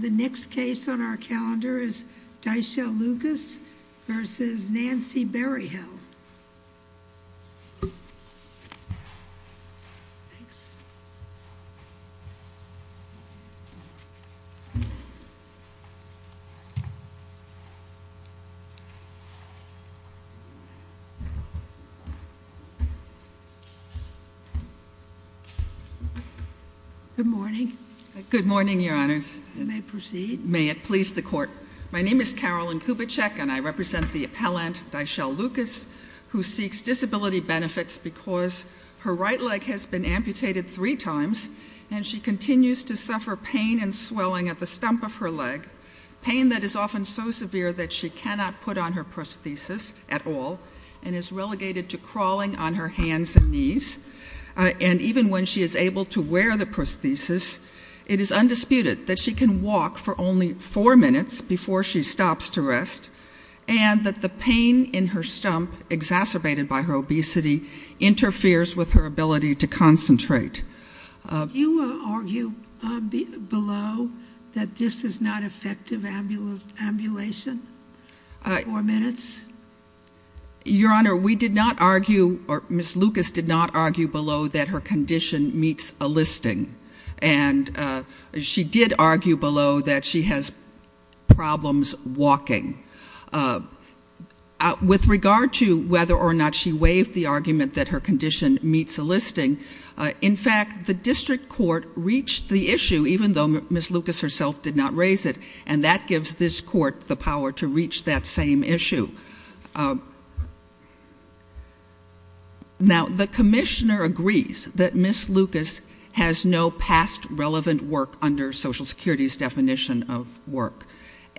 The next case on our calendar is Dyshell Lucas v. Nancy Berryhill. Good morning. Good morning, your honors. You may proceed. May it please the court. My name is Carolyn Kubitschek and I represent the appellant Dyshell Lucas who seeks disability benefits because her right leg has been amputated three times and she continues to suffer pain and swelling at the stump of her leg, pain that is often so severe that she cannot put on her prosthesis at all and is relegated to crawling on her hands and knees. And even when she is able to wear the prosthesis, it is undisputed that she can walk for only four minutes before she stops to rest and that the pain in her stump, exacerbated by her obesity, interferes with her ability to concentrate. Do you argue below that this is not effective ambulation, four minutes? Your honor, we did not argue or Ms. Lucas did not argue below that her condition meets a listing and she did argue below that she has problems walking. With regard to whether or not she waived the argument that her condition meets a listing, in fact the district court reached the issue even though Ms. Lucas herself did not raise it and that gives this court the power to reach that same issue. Now, the commissioner agrees that Ms. Lucas has no past relevant work under Social Security's definition of work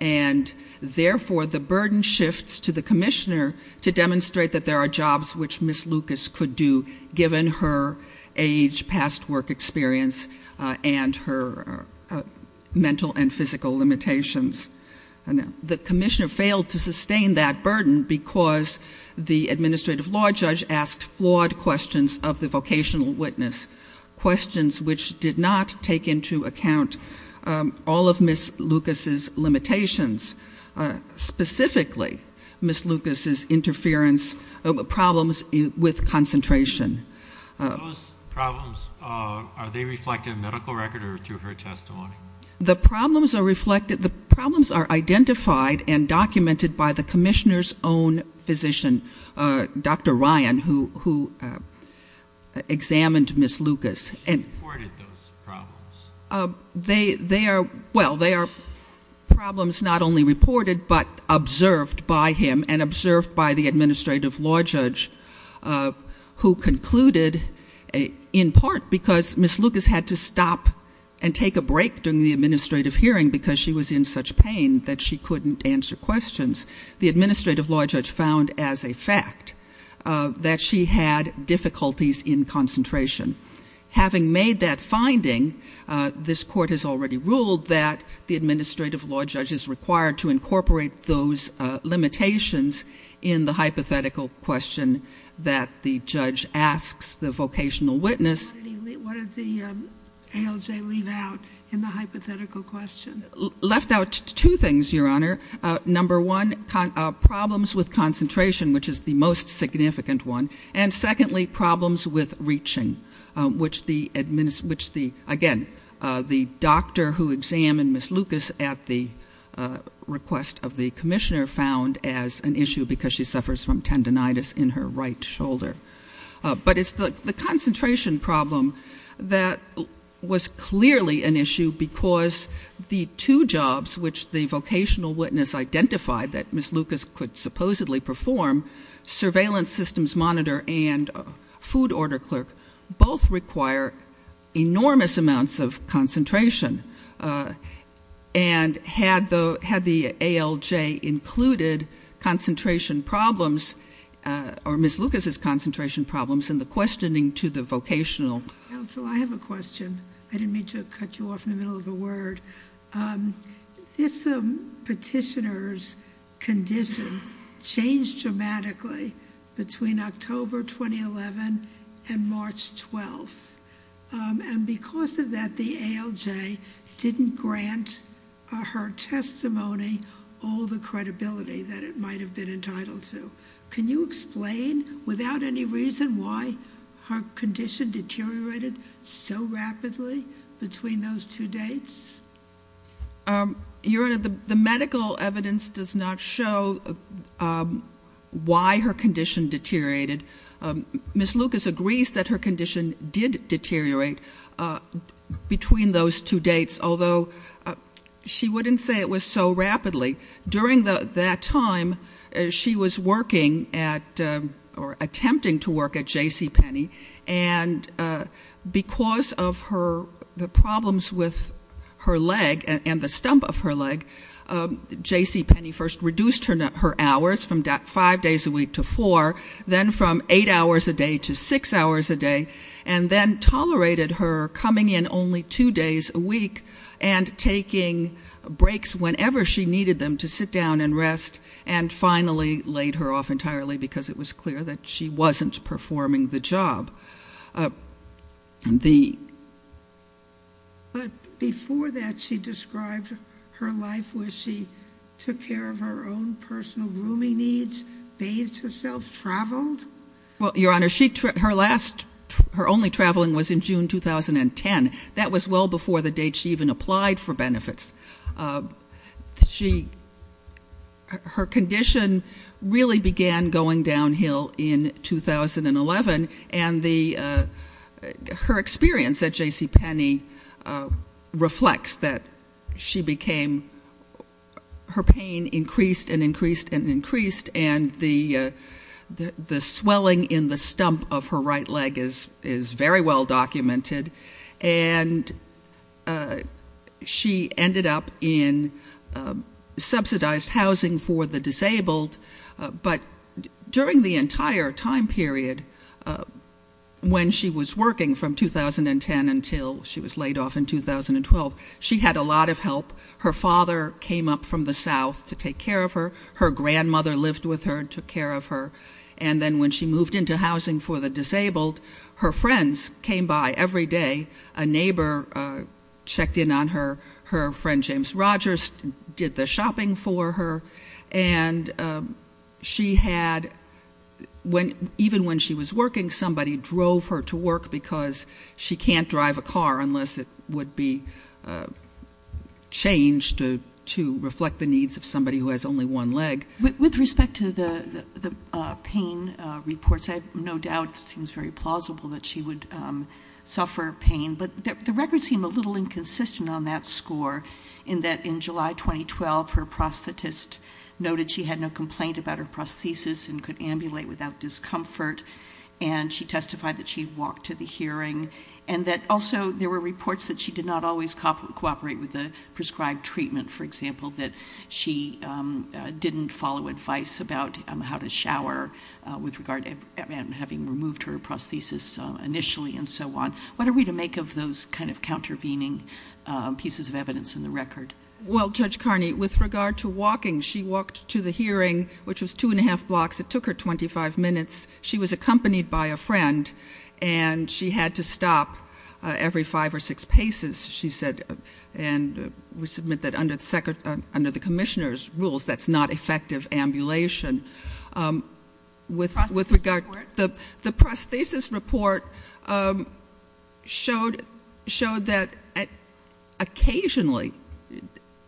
and therefore the burden shifts to the commissioner to demonstrate that there are jobs which Ms. Lucas could do given her age, past work experience and her mental and physical limitations. The commissioner failed to sustain that burden because the administrative law judge asked flawed questions of the vocational witness, questions which did not take into account all of Ms. Lucas's limitations, specifically Ms. Lucas's interference problems with concentration. Those problems, are they reflected in the medical record or through her testimony? The problems are reflected, the problems are identified and documented by the commissioner's own physician, Dr. Ryan, who examined Ms. Lucas. She reported those problems? They are, well, they are problems not only reported but observed by him and observed by the administrative law judge who concluded in part because Ms. Lucas had to stop and take a break during the administrative hearing because she was in such pain that she couldn't answer questions, the administrative law judge found as a fact that she had difficulties in concentration. Having made that finding, this court has already ruled that the administrative law judge is required to incorporate those limitations in the hypothetical question that the judge asks the vocational witness. What did the ALJ leave out in the hypothetical question? Left out two things, Your Honor. Number one, problems with concentration, which is the most significant one. And secondly, problems with reaching, which the, again, the doctor who examined Ms. Lucas at the request of the commissioner found as an issue because she suffers from tendinitis in her right shoulder. But it's the concentration problem that was clearly an issue because the two jobs which the vocational witness identified that Ms. Lucas could supposedly perform, surveillance systems monitor and food order clerk, both require enormous amounts of concentration. And had the ALJ included concentration problems or Ms. Lucas' concentration problems in the questioning to the vocational? Counsel, I have a question. I didn't mean to cut you off in the middle of a word. This petitioner's condition changed dramatically between October 2011 and March 12th. And because of that, the ALJ didn't grant her testimony all the credibility that it might have been entitled to. Can you explain without any reason why her condition deteriorated so rapidly between those two dates? Your Honor, the medical evidence does not show why her condition deteriorated. Ms. Lucas agrees that her condition did deteriorate between those two dates, although she wouldn't say it was so rapidly. During that time, she was working at or attempting to work at JCPenney. And because of the problems with her leg and the stump of her leg, JCPenney first reduced her hours from five days a week to four, then from eight hours a day to six hours a day, and then tolerated her coming in only two days a week and taking breaks whenever she needed them to sit down and rest, and finally laid her off entirely because it was clear that she wasn't performing the job. But before that, she described her life where she took care of her own personal grooming needs, bathed herself, traveled? Well, Your Honor, her only traveling was in June 2010. That was well before the date she even applied for benefits. Her condition really began going downhill in 2011, and her experience at JCPenney reflects that she became her pain increased and increased and increased, and the swelling in the stump of her right leg is very well documented, and she ended up in subsidized housing for the disabled. But during the entire time period, when she was working from 2010 until she was laid off in 2012, she had a lot of help. Her father came up from the south to take care of her. Her grandmother lived with her and took care of her, and then when she moved into housing for the disabled, her friends came by every day. A neighbor checked in on her. Her friend James Rogers did the shopping for her, and she had, even when she was working, somebody drove her to work because she can't drive a car unless it would be changed to reflect the needs of somebody who has only one leg. With respect to the pain reports, I have no doubt it seems very plausible that she would suffer pain, but the records seem a little inconsistent on that score in that in July 2012, her prosthetist noted she had no complaint about her prosthesis and could ambulate without discomfort, and she testified that she'd walked to the hearing and that also there were reports that she did not always cooperate with the prescribed treatment, for example, that she didn't follow advice about how to shower with regard to having removed her prosthesis initially and so on. What are we to make of those kind of countervening pieces of evidence in the record? Well, Judge Carney, with regard to walking, she walked to the hearing, which was two and a half blocks. It took her 25 minutes. She was accompanied by a friend, and she had to stop every five or six paces, she said. And we submit that under the commissioner's rules, that's not effective ambulation. The prosthesis report showed that occasionally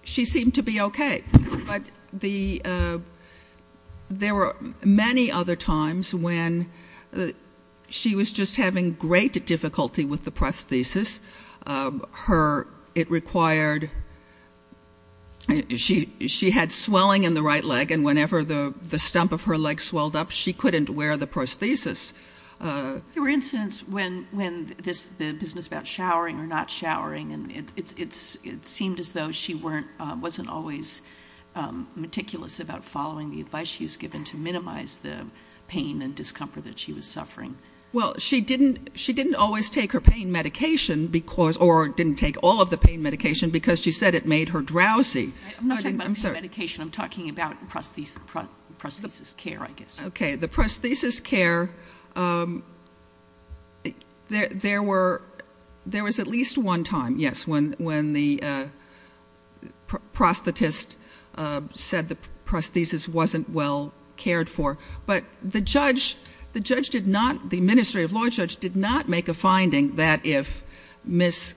she seemed to be okay. But there were many other times when she was just having great difficulty with the prosthesis. It required she had swelling in the right leg, and whenever the stump of her leg swelled up, she couldn't wear the prosthesis. There were incidents when the business about showering or not showering, and it seemed as though she wasn't always meticulous about following the advice she was given to minimize the pain and discomfort that she was suffering. Well, she didn't always take her pain medication, or didn't take all of the pain medication, because she said it made her drowsy. I'm not talking about pain medication. I'm talking about prosthesis care, I guess. Okay. The prosthesis care, there was at least one time, yes, when the prosthetist said the prosthesis wasn't well cared for. But the judge did not, the administrative law judge did not make a finding that if Ms.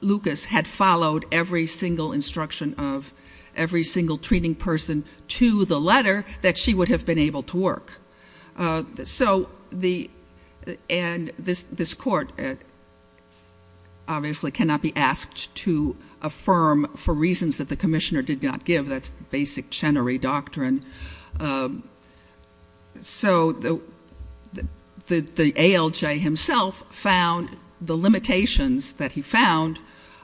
Lucas had followed every single instruction of every single treating person to the letter, that she would have been able to work. So the, and this court obviously cannot be asked to affirm for reasons that the commissioner did not give. That's basic Chenery doctrine. So the ALJ himself found the limitations that he found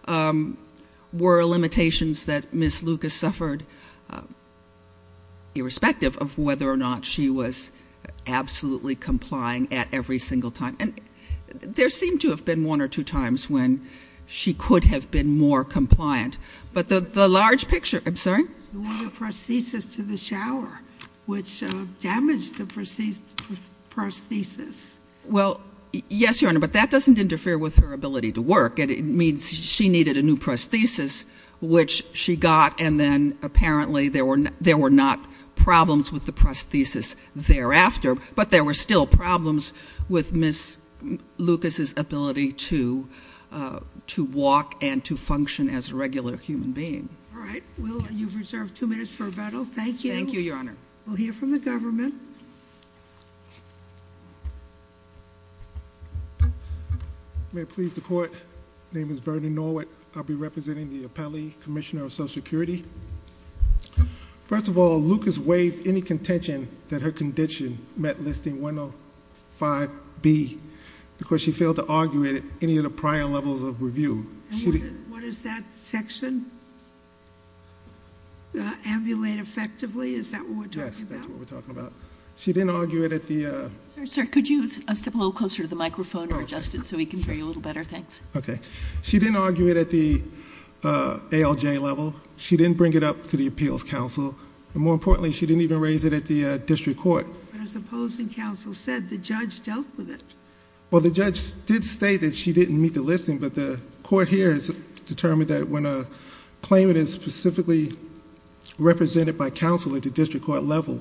were limitations that Ms. Lucas suffered, irrespective of whether or not she was absolutely complying at every single time. And there seemed to have been one or two times when she could have been more compliant. But the large picture, I'm sorry? The prosthesis to the shower, which damaged the prosthesis. Well, yes, Your Honor, but that doesn't interfere with her ability to work. It means she needed a new prosthesis, which she got, and then apparently there were not problems with the prosthesis thereafter. But there were still problems with Ms. Lucas's ability to walk and to function as a regular person. All right. Well, you've reserved two minutes for rebuttal. Thank you. Thank you, Your Honor. We'll hear from the government. May it please the court. Name is Vernon Norwood. I'll be representing the appellee commissioner of social security. First of all, Lucas waived any contention that her condition met listing 105 B because she failed to argue at any of the prior levels of review. What is that section? Ambulate effectively? Is that what we're talking about? Yes, that's what we're talking about. She didn't argue it at the... Sir, could you step a little closer to the microphone or adjust it so we can hear you a little better? Thanks. Okay. She didn't argue it at the ALJ level. She didn't bring it up to the appeals council. And more importantly, she didn't even raise it at the district court. But as opposing counsel said, the judge dealt with it. Well, the judge did state that she didn't meet the listing. But the court here has determined that when a claimant is specifically represented by counsel at the district court level,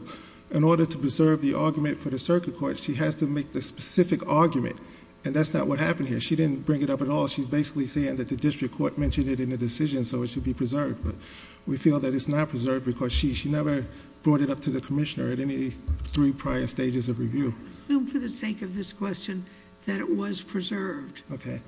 in order to preserve the argument for the circuit court, she has to make the specific argument. And that's not what happened here. She didn't bring it up at all. She's basically saying that the district court mentioned it in the decision, so it should be preserved. But we feel that it's not preserved because she never brought it up to the commissioner at any three prior stages of review. I assume for the sake of this question that it was preserved. Okay.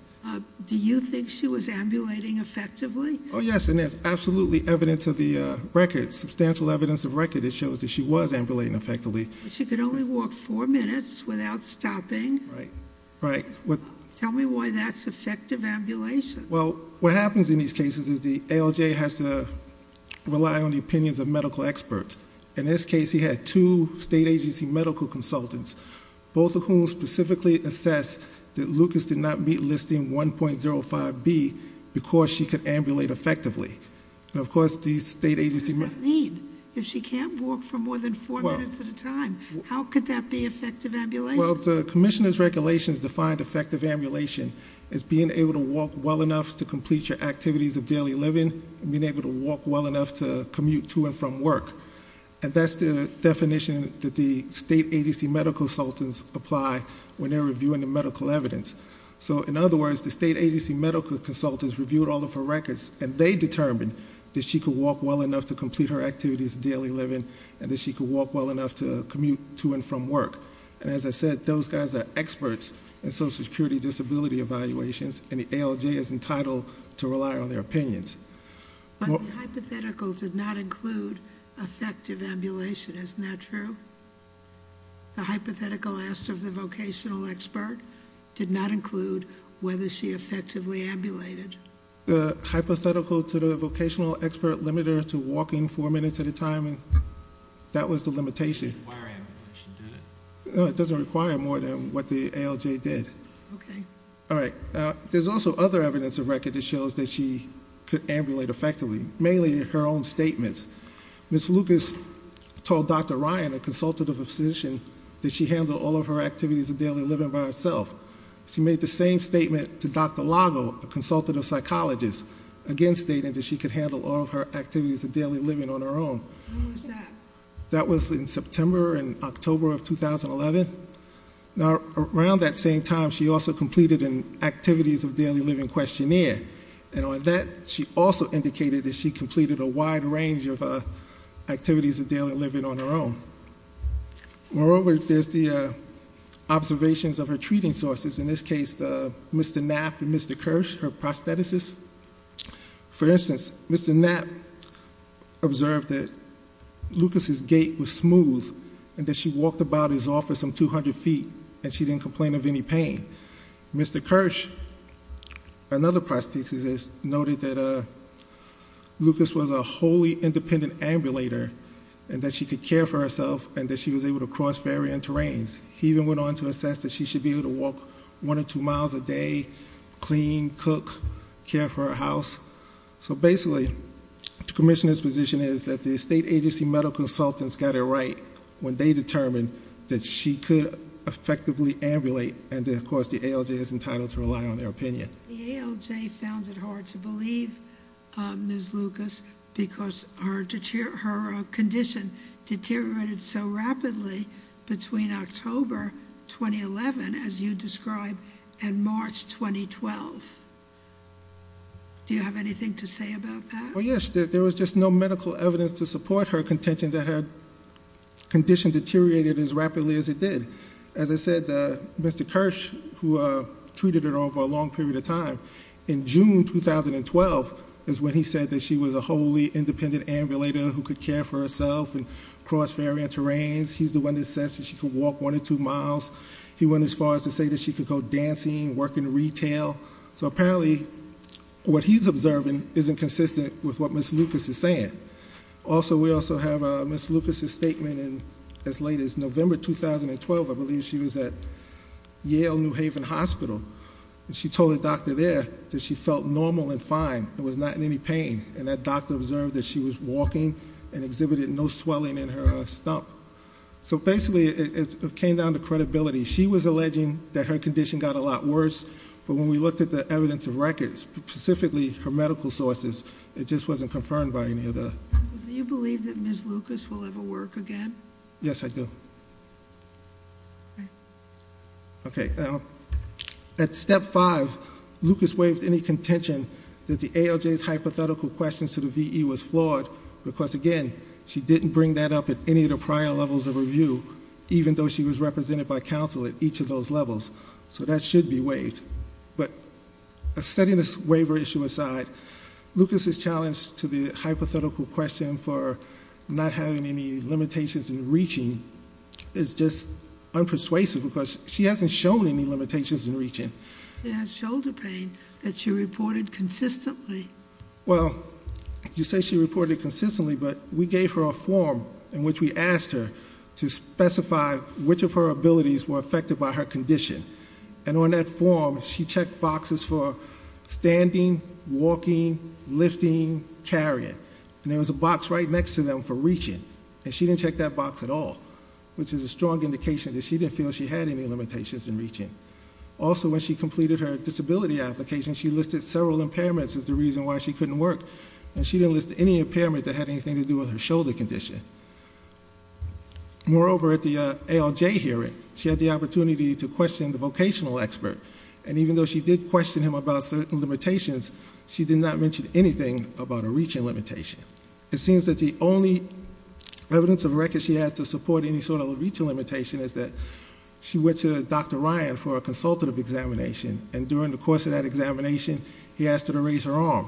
Do you think she was ambulating effectively? Oh, yes. And there's absolutely evidence of the record, substantial evidence of record that shows that she was ambulating effectively. But she could only walk four minutes without stopping. Right. Right. Tell me why that's effective ambulation. Well, what happens in these cases is the ALJ has to rely on the opinions of medical experts. In this case, he had two state agency medical consultants, both of whom specifically assess that Lucas did not meet listing 1.05B because she could ambulate effectively. And, of course, the state agency- What does that mean? If she can't walk for more than four minutes at a time, how could that be effective ambulation? Well, the commissioner's regulations defined effective ambulation as being able to walk well enough to complete your activities of daily living and being able to walk well enough to commute to and from work. And that's the definition that the state agency medical consultants apply when they're reviewing the medical evidence. So, in other words, the state agency medical consultants reviewed all of her records, and they determined that she could walk well enough to complete her activities of daily living and that she could walk well enough to commute to and from work. And, as I said, those guys are experts in Social Security disability evaluations, and the ALJ is entitled to rely on their opinions. But the hypothetical did not include effective ambulation. Isn't that true? The hypothetical asked of the vocational expert did not include whether she effectively ambulated. The hypothetical to the vocational expert limited her to walking four minutes at a time, and that was the limitation. It doesn't require ambulation, did it? No, it doesn't require more than what the ALJ did. Okay. All right. There's also other evidence of record that shows that she could ambulate effectively, mainly her own statements. Ms. Lucas told Dr. Ryan, a consultative physician, that she handled all of her activities of daily living by herself. She made the same statement to Dr. Lago, a consultative psychologist, again stating that she could handle all of her activities of daily living on her own. When was that? That was in September and October of 2011. Now, around that same time, she also completed an activities of daily living questionnaire, and on that she also indicated that she completed a wide range of activities of daily living on her own. Moreover, there's the observations of her treating sources, in this case Mr. Knapp and Mr. Kirsch, her prosthetists. For instance, Mr. Knapp observed that Lucas' gait was smooth, and that she walked about his office some 200 feet, and she didn't complain of any pain. Mr. Kirsch, another prosthetist, noted that Lucas was a wholly independent ambulator, and that she could care for herself, and that she was able to cross varying terrains. He even went on to assess that she should be able to walk one or two miles a day, clean, cook, care for her house. So basically, the commissioner's position is that the state agency medical consultants got it right when they determined that she could effectively ambulate, and of course the ALJ is entitled to rely on their opinion. The ALJ found it hard to believe Ms. Lucas because her condition deteriorated so rapidly between October 2011, as you described, and March 2012. Do you have anything to say about that? Well, yes. There was just no medical evidence to support her contention that her condition deteriorated as rapidly as it did. As I said, Mr. Kirsch, who treated her over a long period of time, in June 2012 is when he said that she was a wholly independent ambulator who could care for herself and cross varying terrains. He's the one that says that she could walk one or two miles. He went as far as to say that she could go dancing, work in retail. So apparently, what he's observing isn't consistent with what Ms. Lucas is saying. We also have Ms. Lucas' statement as late as November 2012, I believe she was at Yale New Haven Hospital. And she told the doctor there that she felt normal and fine. There was not any pain. And that doctor observed that she was walking and exhibited no swelling in her stump. So basically, it came down to credibility. She was alleging that her condition got a lot worse, but when we looked at the evidence of records, specifically her medical sources, it just wasn't confirmed by any of the- Do you believe that Ms. Lucas will ever work again? Yes, I do. At step five, Lucas waived any contention that the ALJ's hypothetical questions to the VE was flawed, because again, she didn't bring that up at any of the prior levels of review, even though she was represented by counsel at each of those levels. So that should be waived. But setting this waiver issue aside, Lucas' challenge to the hypothetical question for not having any limitations in reaching is just unpersuasive, because she hasn't shown any limitations in reaching. She has shoulder pain that she reported consistently. Well, you say she reported consistently, but we gave her a form in which we asked her to specify which of her abilities were affected by her condition. And on that form, she checked boxes for standing, walking, lifting, carrying. And there was a box right next to them for reaching, and she didn't check that box at all, which is a strong indication that she didn't feel she had any limitations in reaching. Also, when she completed her disability application, she listed several impairments as the reason why she couldn't work, and she didn't list any impairment that had anything to do with her shoulder condition. Moreover, at the ALJ hearing, she had the opportunity to question the vocational expert, and even though she did question him about certain limitations, she did not mention anything about a reaching limitation. It seems that the only evidence of records she had to support any sort of reaching limitation is that she went to Dr. Ryan for a consultative examination, and during the course of that examination, he asked her to raise her arm.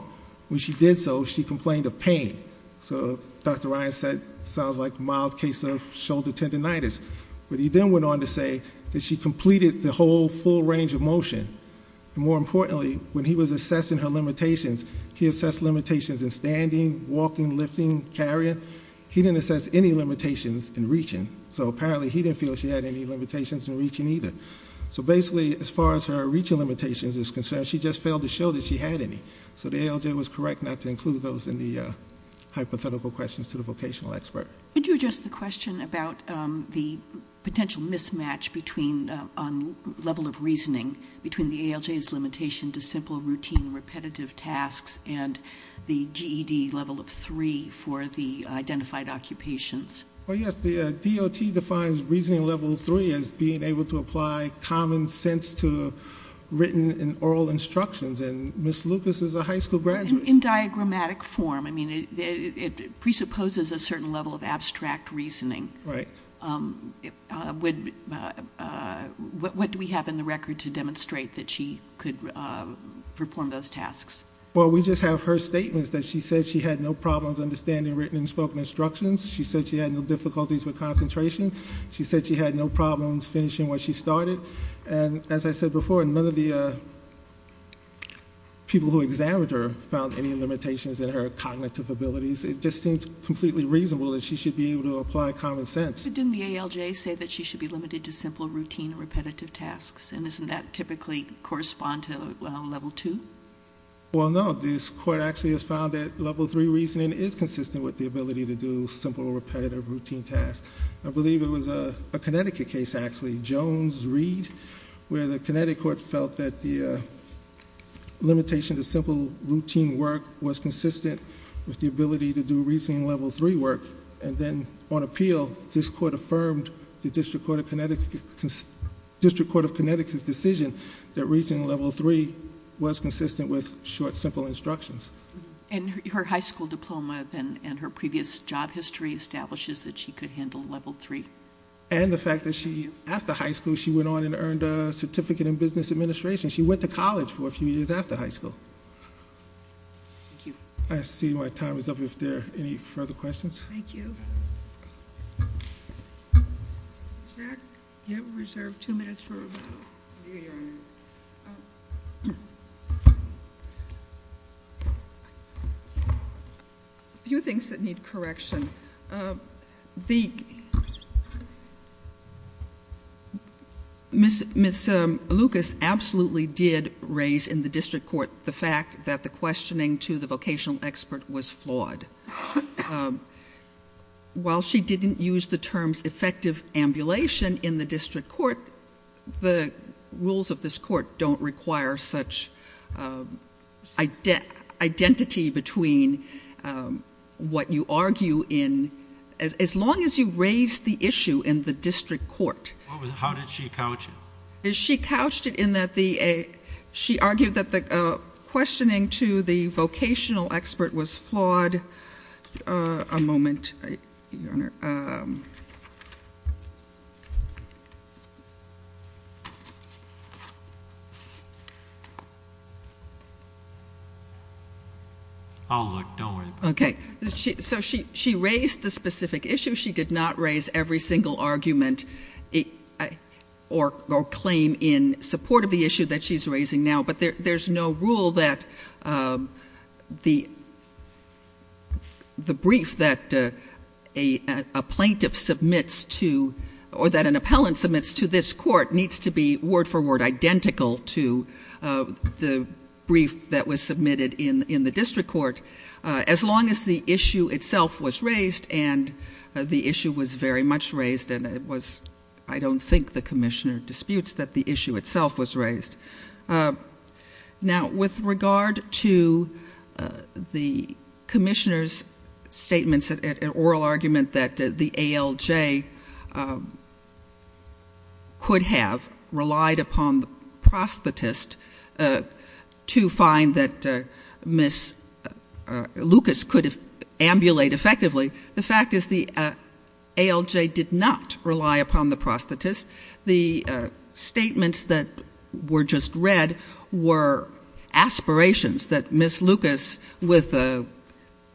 When she did so, she complained of pain. So Dr. Ryan said, sounds like mild case of shoulder tendinitis. But he then went on to say that she completed the whole full range of motion. And more importantly, when he was assessing her limitations, he assessed limitations in standing, walking, lifting, carrying. He didn't assess any limitations in reaching, so apparently he didn't feel she had any limitations in reaching either. So basically, as far as her reaching limitations is concerned, she just failed to show that she had any. So the ALJ was correct not to include those in the hypothetical questions to the vocational expert. Could you address the question about the potential mismatch on level of reasoning between the ALJ's limitation to simple, routine, repetitive tasks and the GED level of 3 for the identified occupations? Well, yes. The DOT defines reasoning level 3 as being able to apply common sense to written and oral instructions, and Ms. Lucas is a high school graduate. In diagrammatic form, I mean, it presupposes a certain level of abstract reasoning. Right. What do we have in the record to demonstrate that she could perform those tasks? Well, we just have her statements that she said she had no problems understanding written and spoken instructions. She said she had no difficulties with concentration. She said she had no problems finishing what she started. And as I said before, none of the people who examined her found any limitations in her cognitive abilities. It just seems completely reasonable that she should be able to apply common sense. But didn't the ALJ say that she should be limited to simple, routine, repetitive tasks? And doesn't that typically correspond to level 2? Well, no. This Court actually has found that level 3 reasoning is consistent with the ability to do simple, repetitive, routine tasks. I believe it was a Connecticut case, actually. Jones-Reed, where the Connecticut Court felt that the limitation to simple, routine work was consistent with the ability to do reasoning level 3 work. And then on appeal, this Court affirmed the District Court of Connecticut's decision that reasoning level 3 was consistent with short, simple instructions. And her high school diploma and her previous job history establishes that she could handle level 3. And the fact that she, after high school, she went on and earned a certificate in business administration. She went to college for a few years after high school. Thank you. I see my time is up. If there are any further questions? Thank you. Ms. Mack, you have reserved two minutes for rebuttal. Thank you, Your Honor. A few things that need correction. The... Ms. Lucas absolutely did raise in the District Court the fact that the questioning to the vocational expert was flawed. While she didn't use the terms effective ambulation in the District Court, the rules of this Court don't require such identity between what you argue in... As long as you raise the issue in the District Court... How did she couch it? She couched it in that the... She argued that the questioning to the vocational expert was flawed. A moment. Your Honor. Oh, look. Don't worry about it. Okay. So, she raised the specific issue. She did not raise every single argument or claim in support of the issue that she's raising now. But there's no rule that the brief that a plaintiff submits to... or that an appellant submits to this Court needs to be word-for-word identical to the brief that was submitted in the District Court... as long as the issue itself was raised and the issue was very much raised and it was... I don't think the Commissioner disputes that the issue itself was raised. Now, with regard to the Commissioner's statements and oral argument that the ALJ... could have relied upon the prosthetist to find that Ms. Lucas could have ambulate effectively... The fact is the ALJ did not rely upon the prosthetist. The statements that were just read were aspirations that Ms. Lucas with a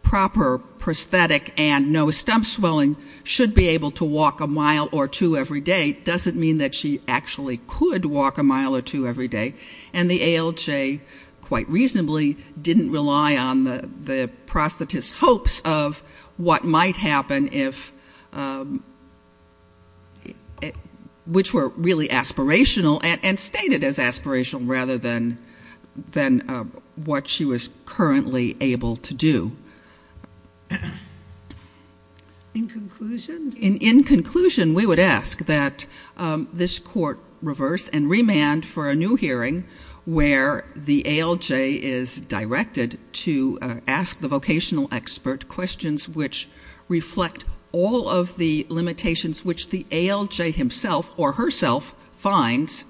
proper prosthetic and no stump swelling... should be able to walk a mile or two every day. It doesn't mean that she actually could walk a mile or two every day. And the ALJ, quite reasonably, didn't rely on the prosthetist's hopes of what might happen if... which were really aspirational and stated as aspirational rather than what she was currently able to do. In conclusion? In conclusion, we would ask that this Court reverse and remand for a new hearing... where the ALJ is directed to ask the vocational expert questions which reflect all of the limitations... which the ALJ himself or herself finds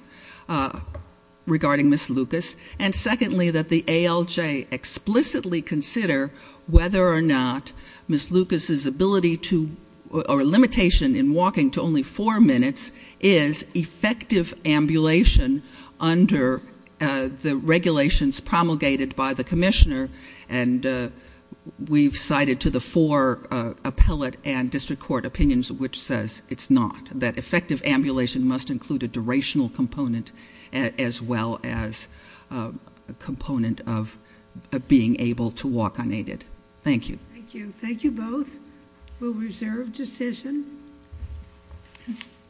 regarding Ms. Lucas. And, secondly, that the ALJ explicitly consider whether or not Ms. Lucas' ability to... or limitation in walking to only four minutes is effective ambulation under the regulations promulgated by the Commissioner. And, we've cited to the four appellate and district court opinions which says it's not. That effective ambulation must include a durational component as well as a component of being able to walk unaided. Thank you. Thank you. Thank you both. We'll reserve decision.